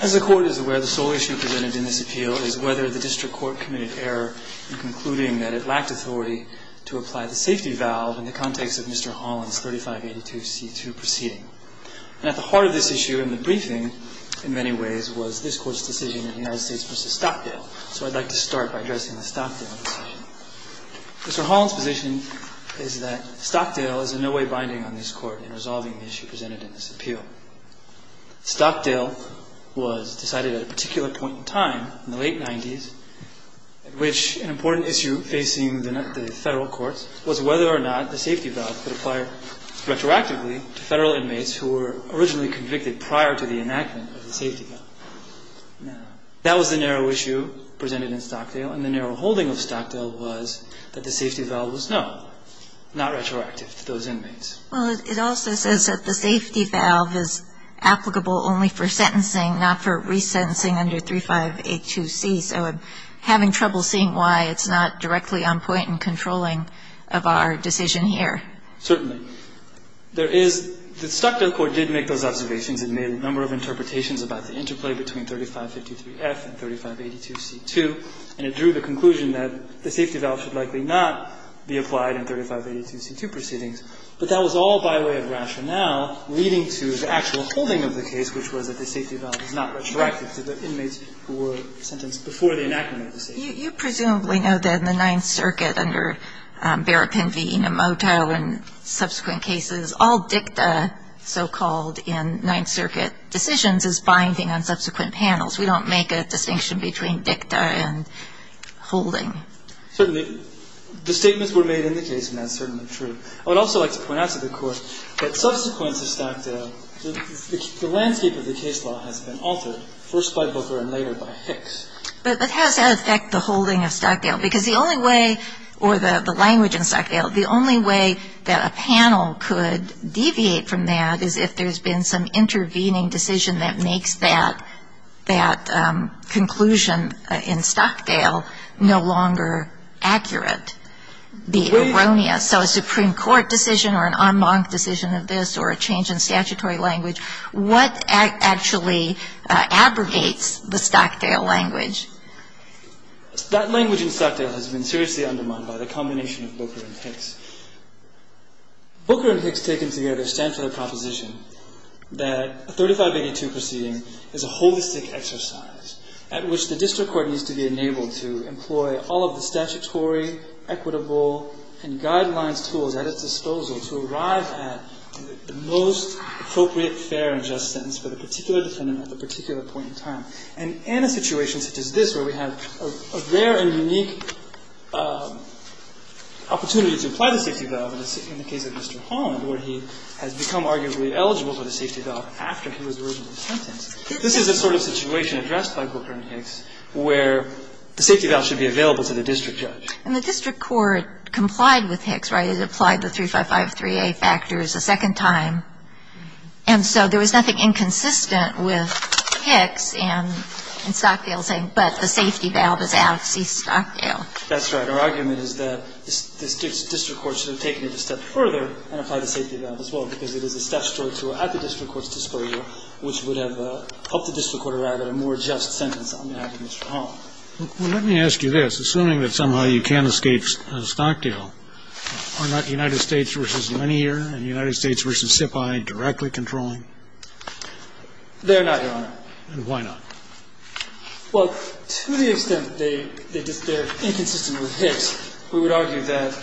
As the Court is aware, the sole issue presented in this appeal is whether the District Court committed error in concluding that it lacked authority to apply the safety valve in the context of Mr. Holland's 3582C2 proceeding. And at the heart of this issue, and the briefing in many ways, was this Court's decision in the United States v. Stockdale. So I'd like to start by addressing the Stockdale decision. Mr. Holland's position is that Stockdale is in no way binding on this Court in resolving the issue presented in this appeal. Stockdale was decided at a particular point in time, in the late 90s, at which an important issue facing the Federal courts was whether or not the safety valve could apply retroactively to Federal inmates who were originally convicted prior to the enactment of the safety valve. Now, that was the narrow issue presented in Stockdale, and the narrow holding of Stockdale was that the safety valve was no, not retroactive to those inmates. Well, it also says that the safety valve is applicable only for sentencing, not for resentencing under 3582C. So I'm having trouble seeing why it's not directly on point in controlling of our decision here. Certainly. There is the Stockdale Court did make those observations. It made a number of interpretations about the interplay between 3553F and 3582C2, and it drew the conclusion that the safety valve should likely not be applied in 3582C2 proceedings. But that was all by way of rationale leading to the actual holding of the case, which was that the safety valve was not retroactive to the inmates who were sentenced before the enactment of the safety valve. You presumably know that in the Ninth Circuit under Berrapin v. Enomoto and subsequent cases, all dicta, so-called, in Ninth Circuit decisions is binding on subsequent panels. We don't make a distinction between dicta and holding. Certainly. The statements were made in the case, and that's certainly true. I would also like to point out to the Court that subsequent to Stockdale, the landscape of the case law has been altered, first by Booker and later by Hicks. But how does that affect the holding of Stockdale? Because the only way, or the language in Stockdale, the only way that a panel could deviate from that is if there's been some intervening decision that makes that conclusion in Stockdale no longer accurate, be it erroneous. So a Supreme Court decision or an en banc decision of this or a change in statutory language, what actually abrogates the Stockdale language? That language in Stockdale has been seriously undermined by the combination of Booker and Hicks. Booker and Hicks taken together stand for the proposition that a 3582 proceeding is a holistic exercise at which the district court needs to be enabled to employ all of the statutory, equitable, and guidelines tools at its disposal to arrive at the most appropriate, fair, and just sentence for the particular defendant at the particular point in time. And in a situation such as this, where we have a rare and unique opportunity to apply the safety valve in the case of Mr. Holland, where he has become arguably eligible for the safety valve after he was originally sentenced, this is the sort of situation addressed by Booker and Hicks where the safety valve should be available to the district judge. And the district court complied with Hicks, right? It applied the 3553A factors a second time. And so there was nothing inconsistent with Hicks and Stockdale saying, but the safety valve is out, cease Stockdale. That's right. Our argument is that the district court should have taken it a step further and applied the safety valve as well, because it is a statutory tool at the district court's disposal which would have helped the district court arrive at a more just sentence on behalf of Mr. Holland. Well, let me ask you this. Assuming that somehow you can't escape Stockdale, are not United States v. Linear and United States v. SIPI directly controlling? They're not, Your Honor. And why not? Well, to the extent that they're inconsistent with Hicks, we would argue that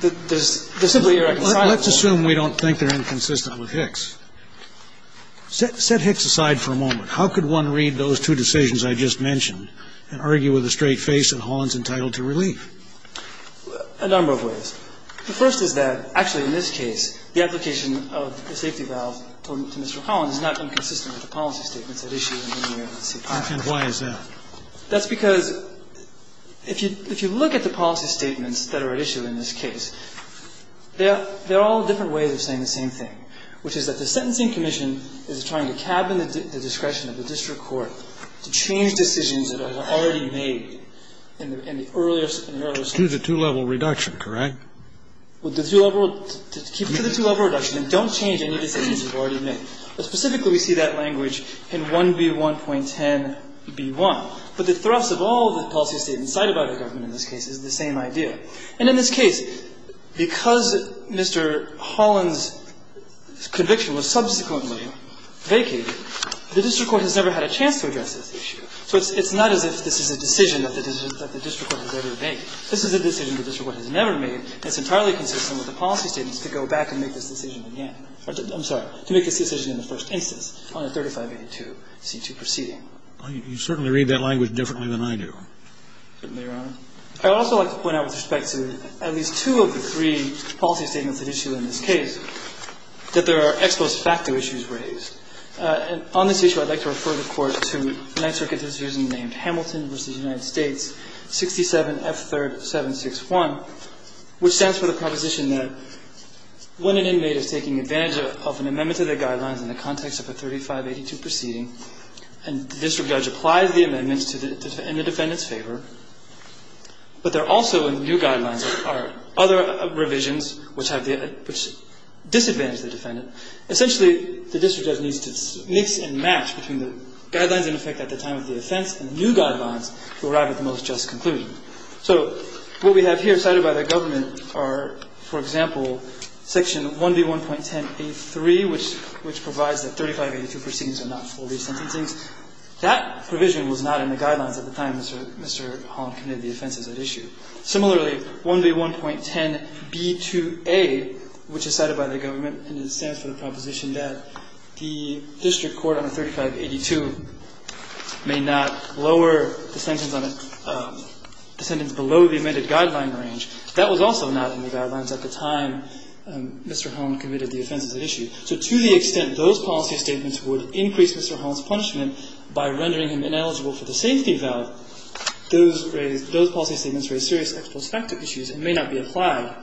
there's simply a reconciled fault. Well, let's assume we don't think they're inconsistent with Hicks. Set Hicks aside for a moment. How could one read those two decisions I just mentioned and argue with a straight face that Holland's entitled to relief? A number of ways. The first is that, actually, in this case, the application of the safety valve to Mr. Holland is not inconsistent with the policy statements at issue in Linear and SIPI. And why is that? That's because if you look at the policy statements that are at issue in this case, they're all different ways of saying the same thing, which is that the sentencing commission is trying to cabin the discretion of the district court to change decisions that are already made in the earlier, in the earlier statements. To the two-level reduction, correct? Well, the two-level, to keep it to the two-level reduction and don't change any decisions that are already made. But specifically, we see that language in 1B1.10b1. But the thrust of all the policy statements cited by the government in this case is the same idea. And in this case, because Mr. Holland's conviction was subsequently vacated, the district court has never had a chance to address this issue. So it's not as if this is a decision that the district court has ever made. This is a decision the district court has never made, and it's entirely consistent with the policy statements to go back and make this decision in the end. I'm sorry, to make this decision in the first instance on the 3582 C2 proceeding. You certainly read that language differently than I do. I would also like to point out with respect to at least two of the three policy statements that issue in this case, that there are ex post facto issues raised. And on this issue, I'd like to refer the Court to the Ninth Circuit's decision named Hamilton v. United States, 67F3761, which stands for the proposition that when an inmate is taking advantage of an amendment to the guidelines in the context of a 3582 proceeding, and the district judge applies the amendment in the defendant's favor, but there also in the new guidelines are other revisions which have the – which disadvantage the defendant. Essentially, the district judge needs to mix and match between the guidelines in effect at the time of the offense and the new guidelines to arrive at the most just conclusion. So what we have here cited by the government are, for example, Section 1B1.1083, which provides that 3582 proceedings are not fully sentencing. That provision was not in the guidelines at the time Mr. – Mr. Holland committed the offenses at issue. Similarly, 1B1.10b2a, which is cited by the government and it stands for the proposition that the district court on 3582 may not lower the sentence on a – the sentence below the amended guideline range. That was also not in the guidelines at the time Mr. Holland committed the offenses at issue. So to the extent those policy statements would increase Mr. Holland's punishment by rendering him ineligible for the safety valve, those raised – those policy statements raise serious exprospective issues and may not be applied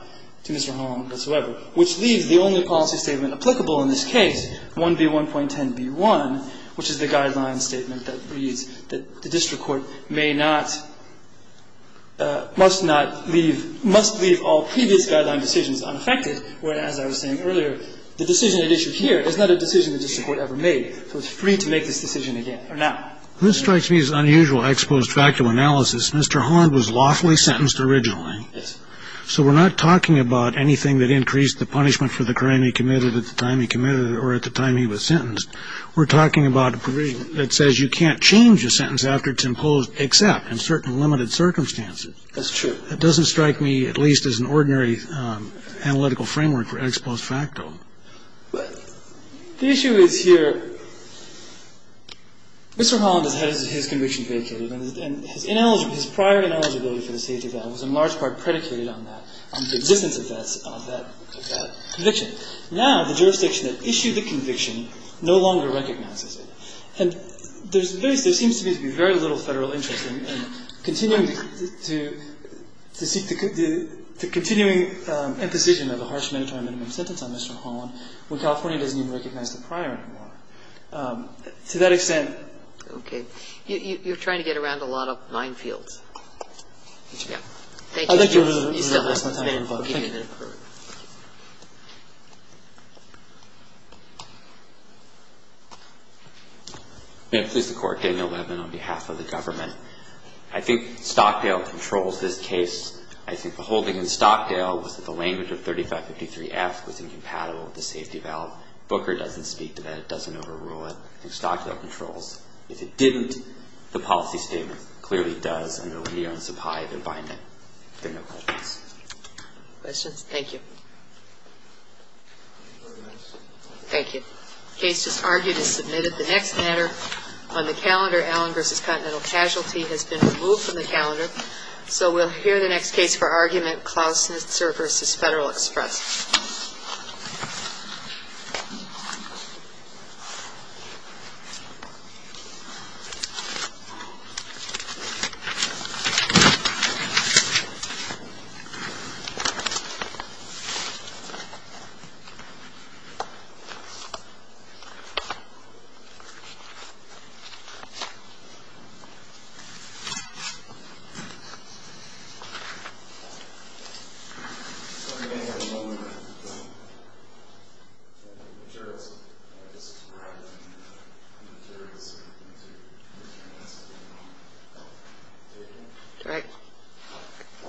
to Mr. Holland whatsoever, which leaves the only policy statement applicable in this case, 1B1.10b1, which is the guideline statement that reads that the district court may not – must not leave – must leave all previous guideline decisions unaffected, whereas, as I was saying earlier, the decision at issue here is not a decision that the district court ever made. So it's free to make this decision again or now. This strikes me as unusual. I exposed factual analysis. Mr. Holland was lawfully sentenced originally. Yes. So we're not talking about anything that increased the punishment for the crime he committed at the time he committed it or at the time he was sentenced. We're talking about a provision that says you can't change a sentence after it's imposed except in certain limited circumstances. That's true. It doesn't strike me at least as an ordinary analytical framework for ex post facto. The issue is here Mr. Holland has had his conviction predicated and his prior ineligibility for the safety valve was in large part predicated on that, on the existence of that conviction. Now the jurisdiction that issued the conviction no longer recognizes it. And there seems to be very little Federal interest in continuing to seek the continuing imposition of a harsh mandatory minimum sentence on Mr. Holland when California doesn't even recognize the prior anymore. To that extent. Okay. You're trying to get around a lot of minefields. Yeah. Thank you. I think Stockdale controls this case. I think the holding in Stockdale was that the language of 3553F was incompatible with the safety valve. Booker doesn't speak to that. It doesn't overrule it. I think Stockdale controls. If it didn't, the policy statement clearly does and it will be on supply to bind it. Thank you. Thank you. Thank you. Thank you. Questions? Thank you. Thank you. The case just argued is submitted. The next matter on the calendar, Allen v. Continental Casualty, has been removed from the calendar. So we'll hear the next case for argument, Klausitzer v. Federal Express. Thank you. All right. All right. All right. All right.